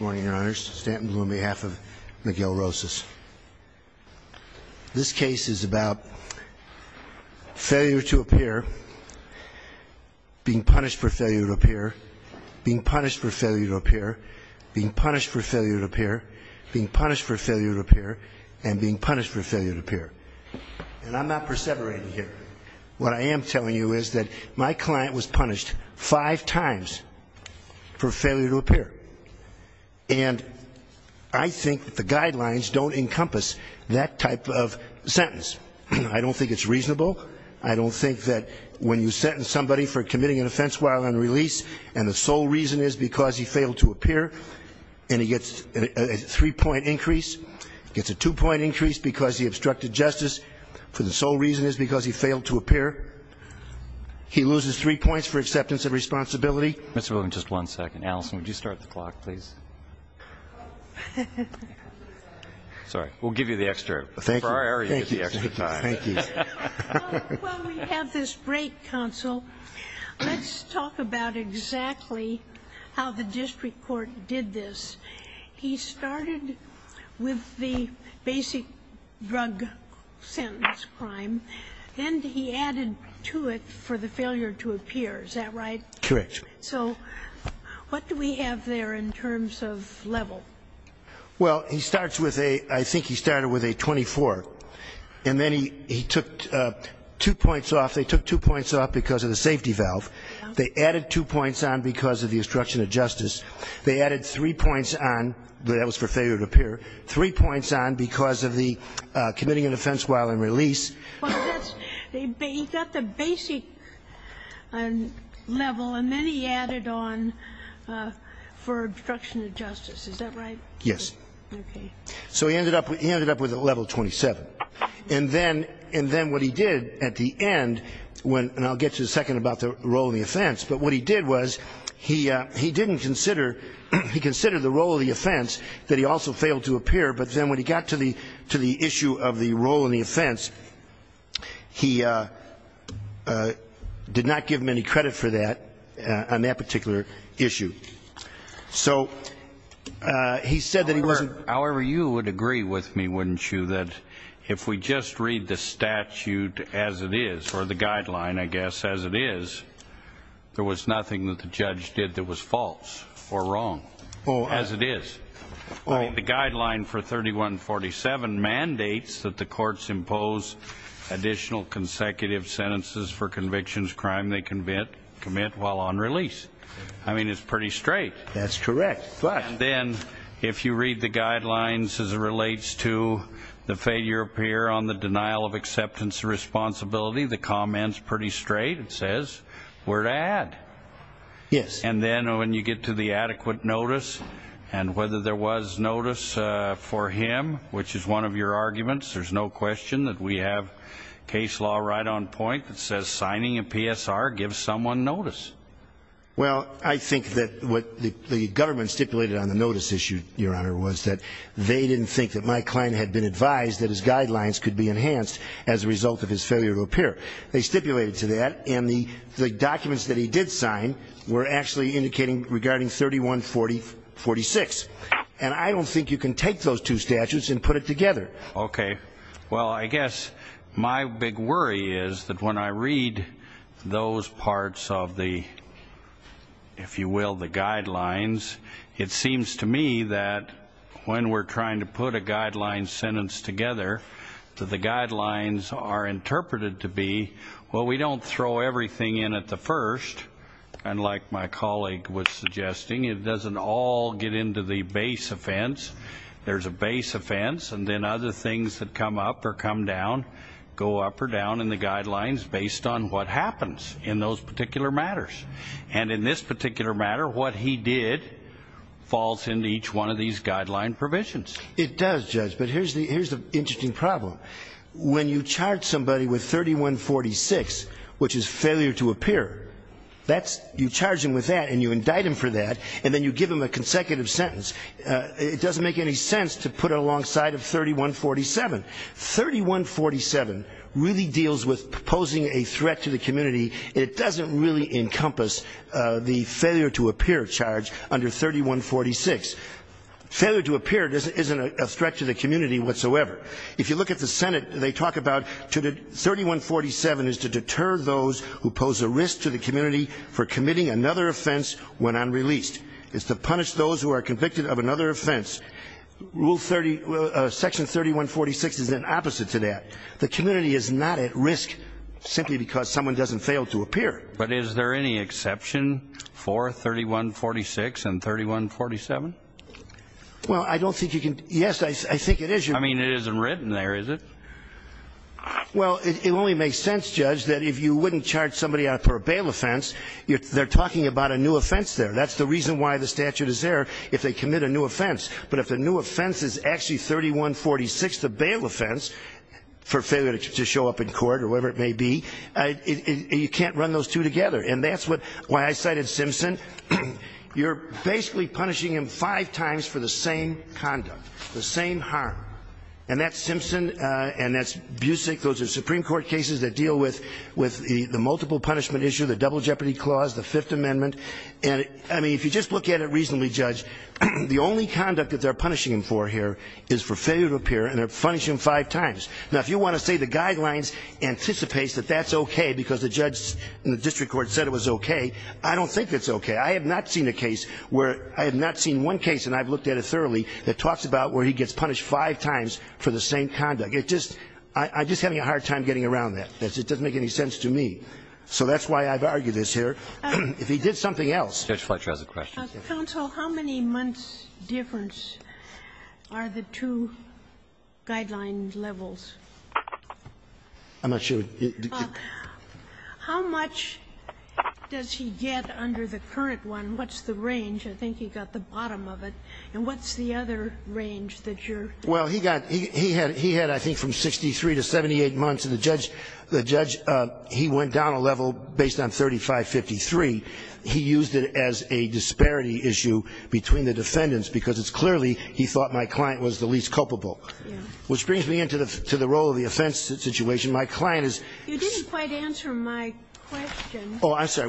Morning, your honors. Stanton on behalf of Miguel Rosas. This case is about failure to appear, being punished for failure to appear, being punished for failure to appear, being punished for failure to appear, being punished for failure to appear, and being punished for failure to appear. And I'm not perseverating here. What I am telling you is that my client was punished five times for failure to appear. And I think the guidelines don't encompass that type of sentence. I don't think it's reasonable. I don't think that when you sentence somebody for committing an offense while on release, and the sole reason is because he failed to appear, and he gets a three-point increase, gets a two-point increase because he obstructed justice, for the sole reason is because he failed to appear, he loses three points for acceptance of responsibility. Mr. Bloom, just one second. Allison, would you start the clock, please? Sorry. We'll give you the extra. Thank you. Well, we have this break, counsel. Let's talk about exactly how the district court did this. He started with the basic drug sentence crime. Then he added to it for the failure to appear. Is that right? Correct. So what do we have there in terms of level? Well, he starts with a, I think he started with a 24. And then he took two points off. They took two points off because of the safety valve. They added two points on because of the obstruction of justice. They added three points on, that was for failure to appear, three points on because of the committing an offense while on release. He got the basic level and then he added on for obstruction of justice. Is that right? Yes. Okay. So he ended up with a level 27. And then what he did at the end, and I'll get to the second about the role of the offense, but what he did was he didn't consider, he considered the role of the offense that he also failed to appear, but then when he got to the issue of the role of the offense, he said, he did not give him any credit for that on that particular issue. So he said that he wasn't... That's correct. But then if you read the guidelines as it relates to the failure to appear on the denial of acceptance of responsibility, the comment's pretty straight. It says we're to add. Yes. And then when you get to the adequate notice and whether there was notice for him, which is one of your arguments, there's no question that we have case law right on point that says signing a PSR gives someone notice. Well, I think that what the government stipulated on the notice issue, Your Honor, was that they didn't think that my client had been advised that his guidelines could be enhanced as a result of his failure to appear. They stipulated to that and the documents that he did sign were actually indicating regarding 3146. And I don't think you can take those two statutes and put it together. Okay. Well, I guess my big worry is that when I read those parts of the, if you will, the guidelines, it seems to me that when we're trying to put a guideline sentence together to the guidelines are interpreted to be, well, we don't throw everything in at the first. And like my colleague was suggesting, it doesn't all get into the base offense. There's a base offense. And then other things that come up or come down, go up or down in the guidelines based on what happens in those particular matters. And in this particular matter, what he did falls into each one of these guideline provisions. It does, Judge. But here's the interesting problem. When you charge somebody with 3146, which is failure to appear, that's, you charge him with that and you indict him for that and then you give him a consecutive sentence. It doesn't make any sense to put it alongside of 3147. 3147 really deals with posing a threat to the community. It doesn't really encompass the failure to appear charge under 3146. Failure to appear isn't a threat to the community whatsoever. If you look at the Senate, they talk about 3147 is to deter those who pose a risk to the community for committing another offense when unreleased. It's to punish those who are convicted of another offense. Rule 30, Section 3146 is an opposite to that. The community is not at risk simply because someone doesn't fail to appear. But is there any exception for 3146 and 3147? Well, I don't think you can. Yes, I think it is. I mean, it isn't written there, is it? Well, it only makes sense, Judge, that if you wouldn't charge somebody for a bail offense, they're talking about a new offense there. That's the reason why the statute is there, if they commit a new offense. But if the new offense is actually 3146, the bail offense, for failure to show up in court or whatever it may be, you can't run those two together. And that's why I cited Simpson. You're basically punishing him five times for the same conduct, the same harm. And that's Simpson, and that's Busick. Those are Supreme Court cases that deal with the multiple punishment issue, the double jeopardy clause, the Fifth Amendment. And, I mean, if you just look at it reasonably, Judge, the only conduct that they're punishing him for here is for failure to appear, and they're punishing him five times. Now, if you want to say the Guidelines anticipates that that's okay because the judge in the district court said it was okay, I don't think it's okay. I have not seen a case where — I have not seen one case, and I've looked at it thoroughly, that talks about where he gets punished five times for the same conduct. It just — I'm just having a hard time getting around that. It doesn't make any sense to me. So that's why I've argued this here. If he did something else — Judge Fletcher has a question. Kagan. Counsel, how many months' difference are the two Guidelines levels? I'm not sure. How much does he get under the current one? What's the range? I think he got the bottom of it. And what's the other range that you're — Well, he got — he had, I think, from 63 to 78 months, and the judge — the judge, he went down a level based on 3553. He used it as a disparity issue between the defendants because it's clearly he thought my client was the least culpable, which brings me into the role of the offense situation. My client is — You didn't quite answer my question. Oh, I'm sorry.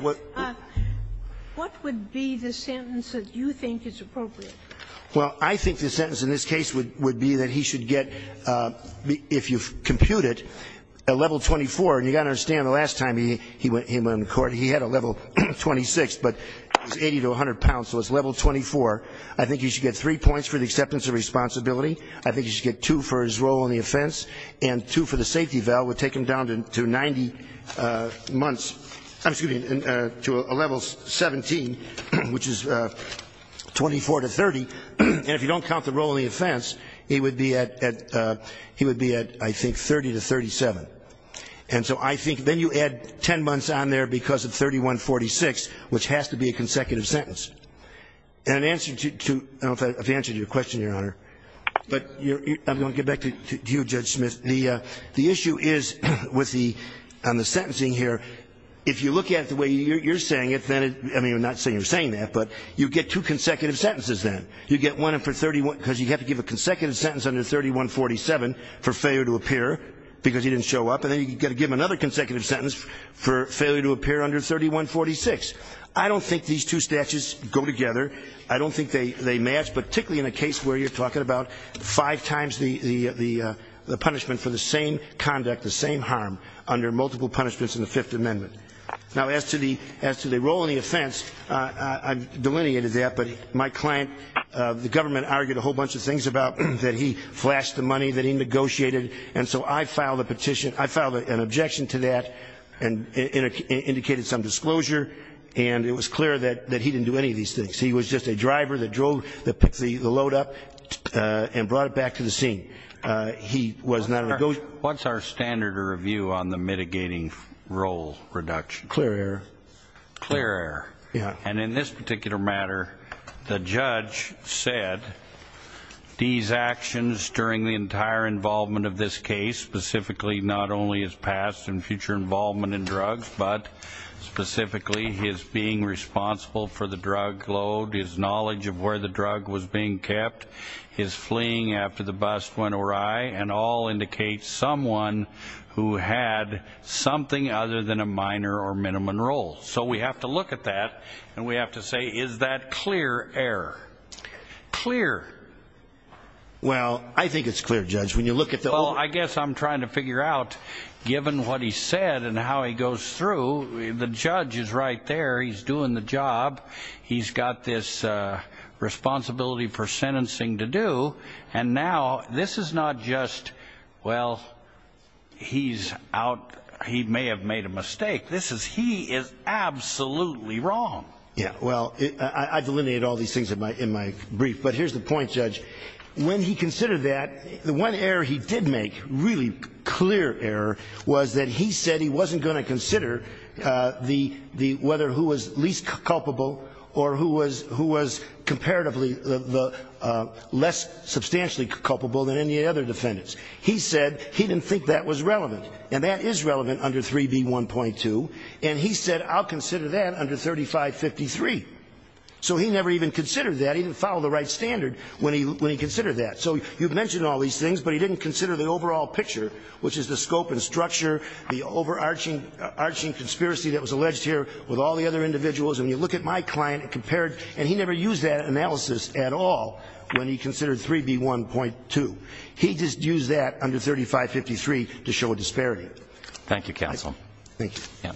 What would be the sentence that you think is appropriate? Well, I think the sentence in this case would be that he should get, if you compute it, a level 24. And you've got to understand, the last time he went in court, he had a level 26, but it's 80 to 100 pounds, so it's level 24. I think he should get three points for the acceptance of responsibility. I think he should get two for his role in the offense and two for the safety valve. And if you don't count the role in the offense, he would be at — he would be at, I think, 30 to 37. And so I think — then you add 10 months on there because of 3146, which has to be a consecutive sentence. And in answer to — I don't know if I've answered your question, Your Honor, but I'm going to get back to you, Judge Smith. On the sentencing here, if you look at it the way you're saying it, then — I mean, I'm not saying you're saying that, but you get two consecutive sentences then. You get one for 31 — because you have to give a consecutive sentence under 3147 for failure to appear because he didn't show up. And then you've got to give him another consecutive sentence for failure to appear under 3146. I don't think these two statutes go together. I don't think they match, particularly in a case where you're talking about five times the punishment for the same conduct, the same harm, under multiple punishments in the Fifth Amendment. Now, as to the role in the offense, I've delineated that, but my client — the government argued a whole bunch of things about that he flashed the money that he negotiated. And so I filed a petition — I filed an objection to that and indicated some disclosure. And it was clear that he didn't do any of these things. He was just a driver that drove — that picked the load up and brought it back to the scene. He was not a — What's our standard review on the mitigating role reduction? Clear error. Clear error. Yeah. And in this particular matter, the judge said, these actions during the entire involvement of this case, specifically not only his past and future involvement in drugs, but specifically his being responsible for the drug load, his knowledge of where the drug was being kept, his fleeing after the bust went awry, and all indicate someone who had something other than a minor or minimum role. So we have to look at that, and we have to say, is that clear error? Clear. Well, I think it's clear, Judge. When you look at the — Well, I guess I'm trying to figure out, given what he said and how he goes through, the judge is right there. He's doing the job. He's got this responsibility for sentencing to do. And now this is not just, well, he's out — he may have made a mistake. This is he is absolutely wrong. Yeah. Well, I delineated all these things in my brief. But here's the point, Judge. When he considered that, the one error he did make, really clear error, was that he said he wasn't going to consider the — whether who was least culpable or who was comparatively less substantially culpable than any other defendants. He said he didn't think that was relevant. And that is relevant under 3B1.2. And he said, I'll consider that under 3553. So he never even considered that. He didn't follow the right standard when he considered that. So you've mentioned all these things, but he didn't consider the overall picture, which is the scope and structure, the overarching conspiracy that was alleged here with all the other individuals. And you look at my client and compare it, and he never used that analysis at all when he considered 3B1.2. He just used that under 3553 to show a disparity. Thank you, counsel. Thank you. Yeah.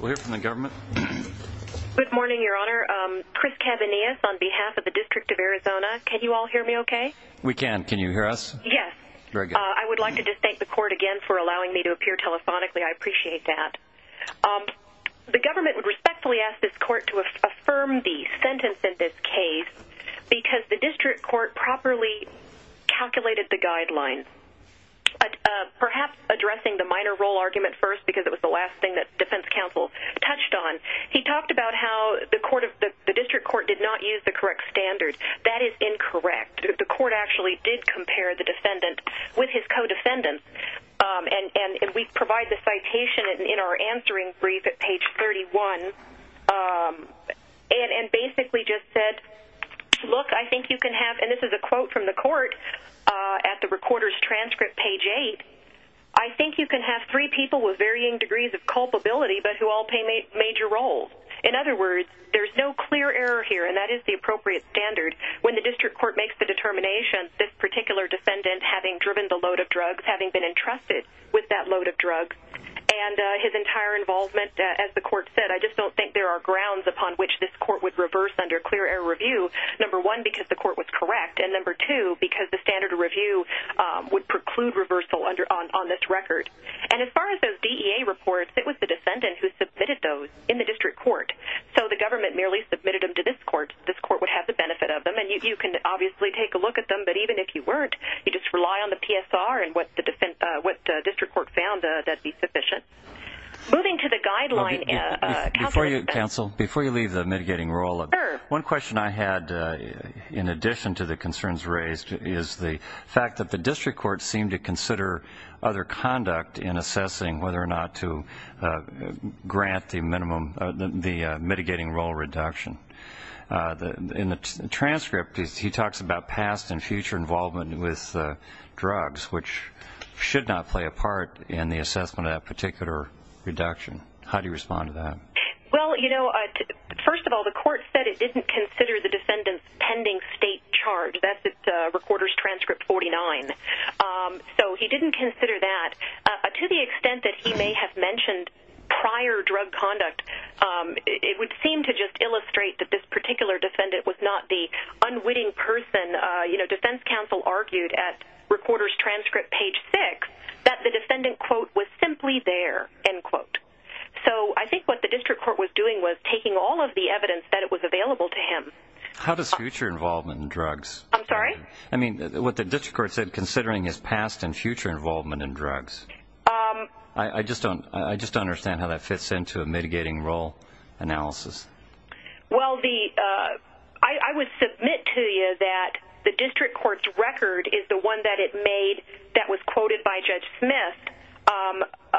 We'll hear from the government. Good morning, Your Honor. Chris Cavanius on behalf of the District of Arizona. Can you all hear me okay? We can. Can you hear us? Yes. I would like to just thank the court again for allowing me to appear telephonically. I appreciate that. The government would respectfully ask this court to affirm the sentence in this case because the district court properly calculated the guidelines. Perhaps addressing the minor role argument first, because it was the last thing that defense counsel touched on, he talked about how the district court did not use the correct standard. That is incorrect. The court actually did compare the defendant with his co-defendant, and we provide the citation in our answering brief at page 31, and basically just said, look, I think you can have, and this is a quote from the court at the recorder's transcript, page 8, I think you can have three people with varying degrees of culpability but who all play major roles. In other words, there's no clear error here, and that is the appropriate standard. When the district court makes the determination, this particular defendant having driven the load of drugs, having been entrusted with that load of drugs, and his entire involvement, as the court said, I just don't think there are grounds upon which this court would reverse under clear error review, number one, because the court was correct, and number two, because the standard of review would preclude reversal on this record. And as far as those DEA reports, it was the defendant who submitted those in the district court, so the government merely submitted them to this court. This court would have the benefit of them, and you can obviously take a look at them, but even if you weren't, you just rely on the PSR and what the district court found that would be sufficient. Moving to the guideline. Before you leave the mitigating role, one question I had, in addition to the concerns raised, is the fact that the district courts seem to consider other conduct in assessing whether or not to grant the mitigating role reduction. In the transcript, he talks about past and future involvement with drugs, which should not play a part in the assessment of that particular reduction. How do you respond to that? Well, you know, first of all, the court said it didn't consider the defendant's pending state charge. That's at Recorder's Transcript 49. So he didn't consider that. To the extent that he may have mentioned prior drug conduct, it would seem to just illustrate that this particular defendant was not the unwitting person. You know, defense counsel argued at Recorder's Transcript page 6 that the defendant, quote, was simply there, end quote. So I think what the district court was doing was taking all of the evidence that it was available to him. How does future involvement in drugs? I'm sorry? I mean, what the district court said, considering his past and future involvement in drugs. I just don't understand how that fits into a mitigating role analysis. Well, I would submit to you that the district court's record is the one that it made that was quoted by Judge Smith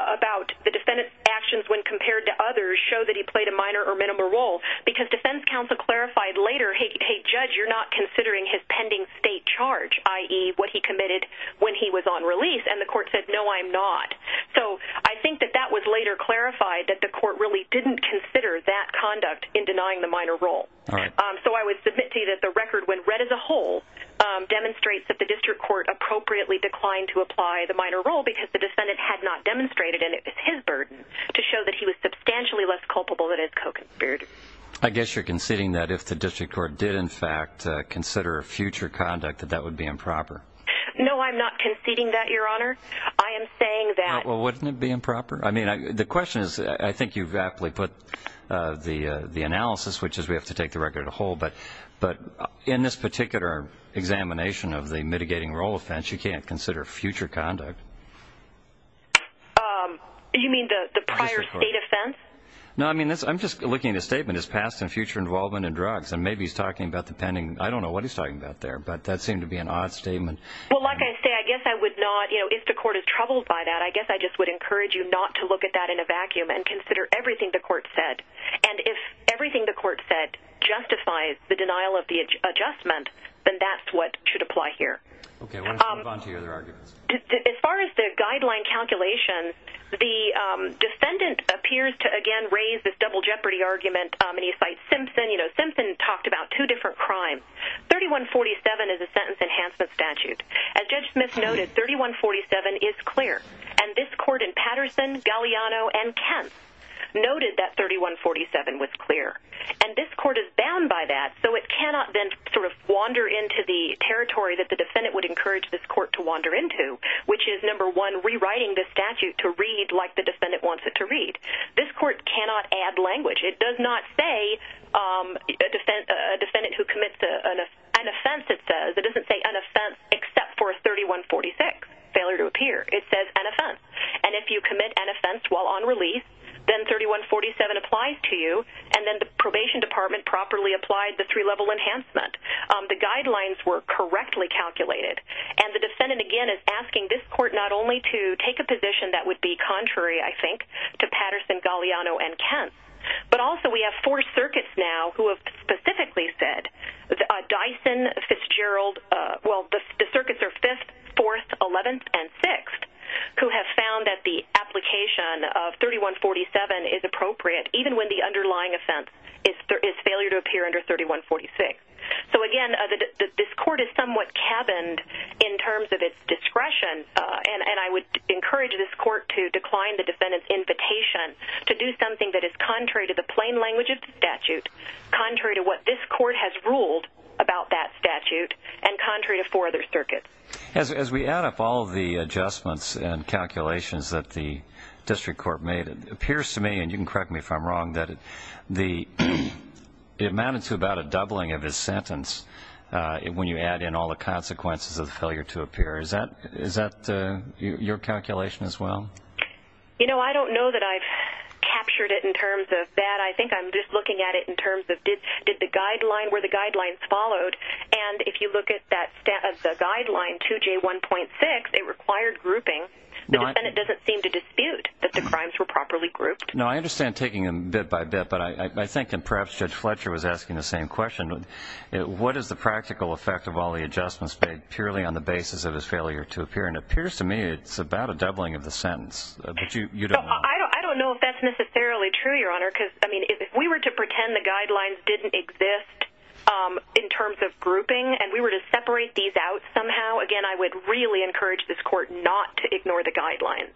about the defendant's actions when compared to others show that he played a minor or minimal role because defense counsel clarified later, hey, Judge, you're not considering his pending state charge, i.e., what he committed when he was on release, and the court said, no, I'm not. So I think that that was later clarified, that the court really didn't consider that conduct in denying the minor role. All right. So I would submit to you that the record, when read as a whole, demonstrates that the district court appropriately declined to apply the minor role because the defendant had not demonstrated, and it was his burden to show that he was substantially less culpable than his co-conspirators. I guess you're conceding that if the district court did, in fact, consider future conduct, that that would be improper. No, I'm not conceding that, Your Honor. I am saying that. Well, wouldn't it be improper? I mean, the question is, I think you've aptly put the analysis, which is we have to take the record as a whole, but in this particular examination of the mitigating role offense, you can't consider future conduct. You mean the prior state offense? No, I mean, I'm just looking at his statement, his past and future involvement in drugs, and maybe he's talking about the pending. I don't know what he's talking about there, but that seemed to be an odd statement. Well, like I say, I guess I would not, you know, if the court is troubled by that, I guess I just would encourage you not to look at that in a vacuum and consider everything the court said. And if everything the court said justifies the denial of the adjustment, then that's what should apply here. Okay, why don't you move on to your other arguments. As far as the guideline calculation, the defendant appears to, again, raise this double jeopardy argument, and he cites Simpson. You know, Simpson talked about two different crimes. 3147 is a sentence enhancement statute. As Judge Smith noted, 3147 is clear, and this court in Patterson, Galliano, and Kemp noted that 3147 was clear. And this court is bound by that, so it cannot then sort of wander into the territory that the defendant would encourage this court to wander into, which is, number one, rewriting the statute to read like the defendant wants it to read. This court cannot add language. It does not say a defendant who commits an offense, it says. It doesn't say an offense except for 3146, failure to appear. It says an offense. And if you commit an offense while on release, then 3147 applies to you, and then the probation department properly applied the three-level enhancement. The guidelines were correctly calculated, and the defendant, again, is asking this court not only to take a position that would be contrary, I think, to Patterson, Galliano, and Kemp, but also we have four circuits now who have specifically said, Dyson, Fitzgerald, well, the circuits are 5th, 4th, 11th, and 6th, who have found that the application of 3147 is appropriate, even when the underlying offense is failure to appear under 3146. So, again, this court is somewhat cabined in terms of its discretion, and I would encourage this court to decline the defendant's invitation to do something that is contrary to the plain language of the statute, contrary to what this court has ruled about that statute, and contrary to four other circuits. As we add up all of the adjustments and calculations that the district court made, it appears to me, and you can correct me if I'm wrong, that it amounted to about a doubling of his sentence when you add in all the consequences of the failure to appear. Is that your calculation as well? You know, I don't know that I've captured it in terms of that. I think I'm just looking at it in terms of did the guideline, were the guidelines followed, and if you look at the guideline 2J1.6, it required grouping. The defendant doesn't seem to dispute that the crimes were properly grouped. No, I understand taking them bit by bit, but I think perhaps Judge Fletcher was asking the same question. What is the practical effect of all the adjustments made purely on the basis of his failure to appear? And it appears to me it's about a doubling of the sentence, but you don't know. I don't know if that's necessarily true, Your Honor, because if we were to pretend the guidelines didn't exist in terms of grouping and we were to separate these out somehow, again, I would really encourage this Court not to ignore the guidelines.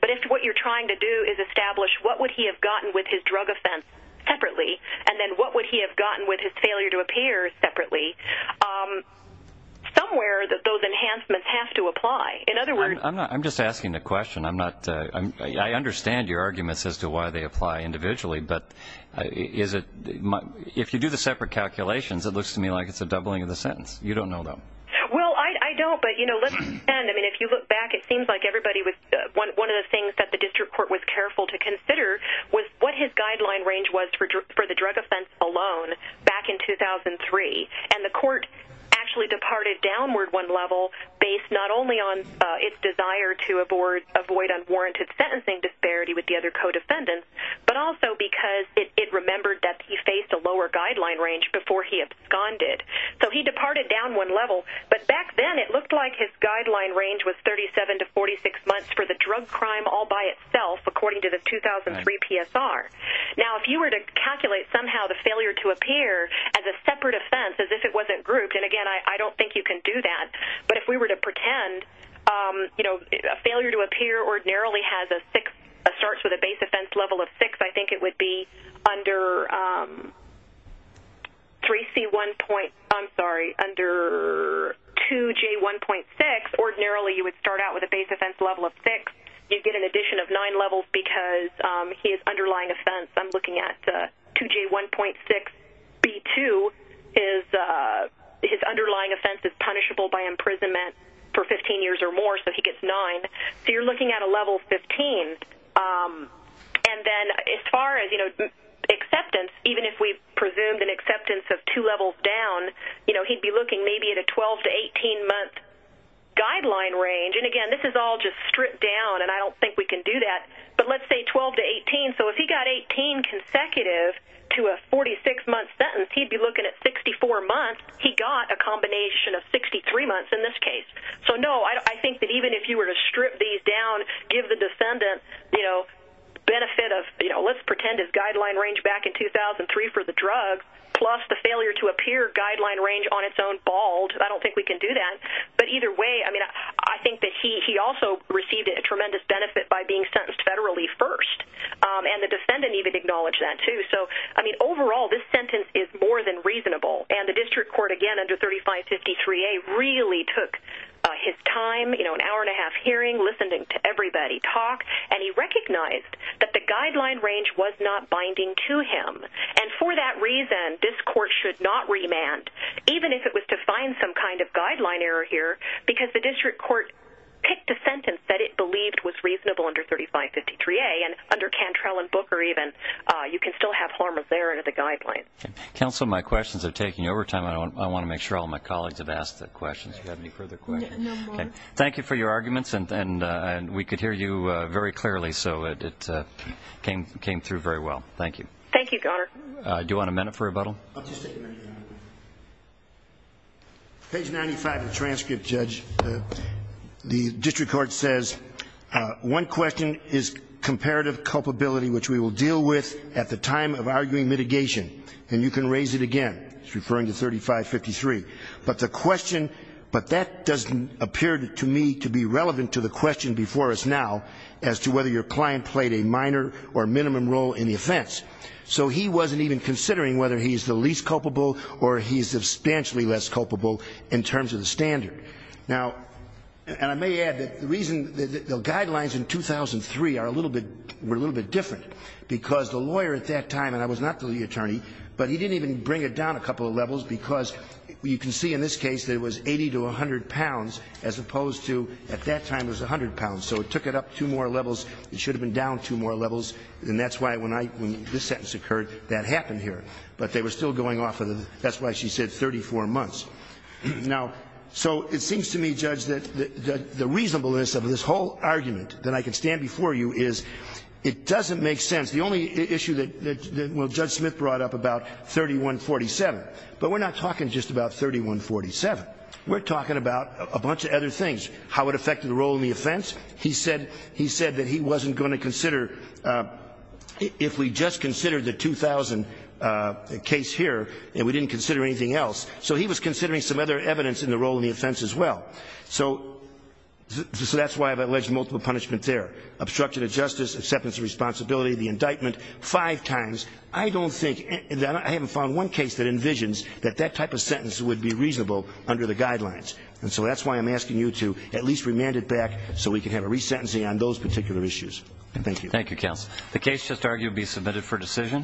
But if what you're trying to do is establish what would he have gotten with his drug offense separately and then what would he have gotten with his failure to appear separately, somewhere those enhancements have to apply. I'm just asking a question. I understand your arguments as to why they apply individually, but if you do the separate calculations, it looks to me like it's a doubling of the sentence. You don't know, though. Well, I don't, but, you know, let's pretend. I mean, if you look back, it seems like one of the things that the District Court was careful to consider was what his guideline range was for the drug offense alone back in 2003. And the Court actually departed downward one level based not only on its desire to avoid unwarranted sentencing disparity with the other co-defendants, but also because it remembered that he faced a lower guideline range before he absconded. So he departed down one level, but back then it looked like his guideline range was 37 to 46 months for the drug crime all by itself, according to the 2003 PSR. Now, if you were to calculate somehow the failure to appear as a separate offense, as if it wasn't grouped, and, again, I don't think you can do that, but if we were to pretend, you know, a failure to appear ordinarily starts with a base offense level of 6, I think it would be under 3C1.0, I'm sorry, under 2J1.6, ordinarily you would start out with a base offense level of 6. You get an addition of 9 levels because his underlying offense, I'm looking at 2J1.6B2, his underlying offense is punishable by imprisonment for 15 years or more, so he gets 9. So you're looking at a level 15. And then as far as, you know, acceptance, even if we presumed an acceptance of two levels down, you know, he'd be looking maybe at a 12 to 18-month guideline range. And, again, this is all just stripped down, and I don't think we can do that. But let's say 12 to 18. So if he got 18 consecutive to a 46-month sentence, he'd be looking at 64 months. He got a combination of 63 months in this case. So, no, I think that even if you were to strip these down, give the defendant, you know, benefit of, you know, let's pretend his guideline range back in 2003 for the drug, plus the failure to appear guideline range on its own bald, I don't think we can do that. But either way, I mean, I think that he also received a tremendous benefit by being sentenced federally first. And the defendant even acknowledged that too. So, I mean, overall this sentence is more than reasonable. And the district court, again, under 3553A really took his time, you know, an hour and a half hearing, listening to everybody talk, and he recognized that the guideline range was not binding to him. And for that reason, this court should not remand, even if it was to find some kind of guideline error here, because the district court picked a sentence that it believed was reasonable under 3553A. And under Cantrell and Booker, even, you can still have harm of error in the guideline. Counsel, my questions are taking over time. I want to make sure all my colleagues have asked their questions. Do you have any further questions? No more. Okay. Thank you for your arguments, and we could hear you very clearly, so it came through very well. Thank you. Thank you, Governor. Do you want a minute for rebuttal? I'll just take a minute. Page 95 of the transcript, Judge. The district court says, one question is comparative culpability, which we will deal with at the time of arguing mitigation, and you can raise it again. It's referring to 3553. But the question, but that doesn't appear to me to be relevant to the question before us now as to whether your client played a minor or minimum role in the offense. So he wasn't even considering whether he's the least culpable or he's substantially less culpable in terms of the standard. Now, and I may add that the reason the guidelines in 2003 are a little bit, were a little bit different because the lawyer at that time, and I was not the attorney, but he didn't even bring it down a couple of levels because you can see in this case that it was 80 to 100 pounds as opposed to at that time it was 100 pounds. So it took it up two more levels. It should have been down two more levels, and that's why when this sentence occurred, that happened here. But they were still going off of the, that's why she said 34 months. Now, so it seems to me, Judge, that the reasonableness of this whole argument that I can stand before you is it doesn't make sense. The only issue that Judge Smith brought up about 3147, but we're not talking just about 3147. We're talking about a bunch of other things, how it affected the role in the offense. He said that he wasn't going to consider, if we just considered the 2000 case here and we didn't consider anything else. So he was considering some other evidence in the role in the offense as well. So that's why I've alleged multiple punishments there, obstruction of justice, acceptance of responsibility, the indictment, five times. I don't think, I haven't found one case that envisions that that type of sentence would be reasonable under the guidelines. And so that's why I'm asking you to at least remand it back so we can have a resentencing on those particular issues. Thank you. Thank you, counsel. The case just argued be submitted for decision.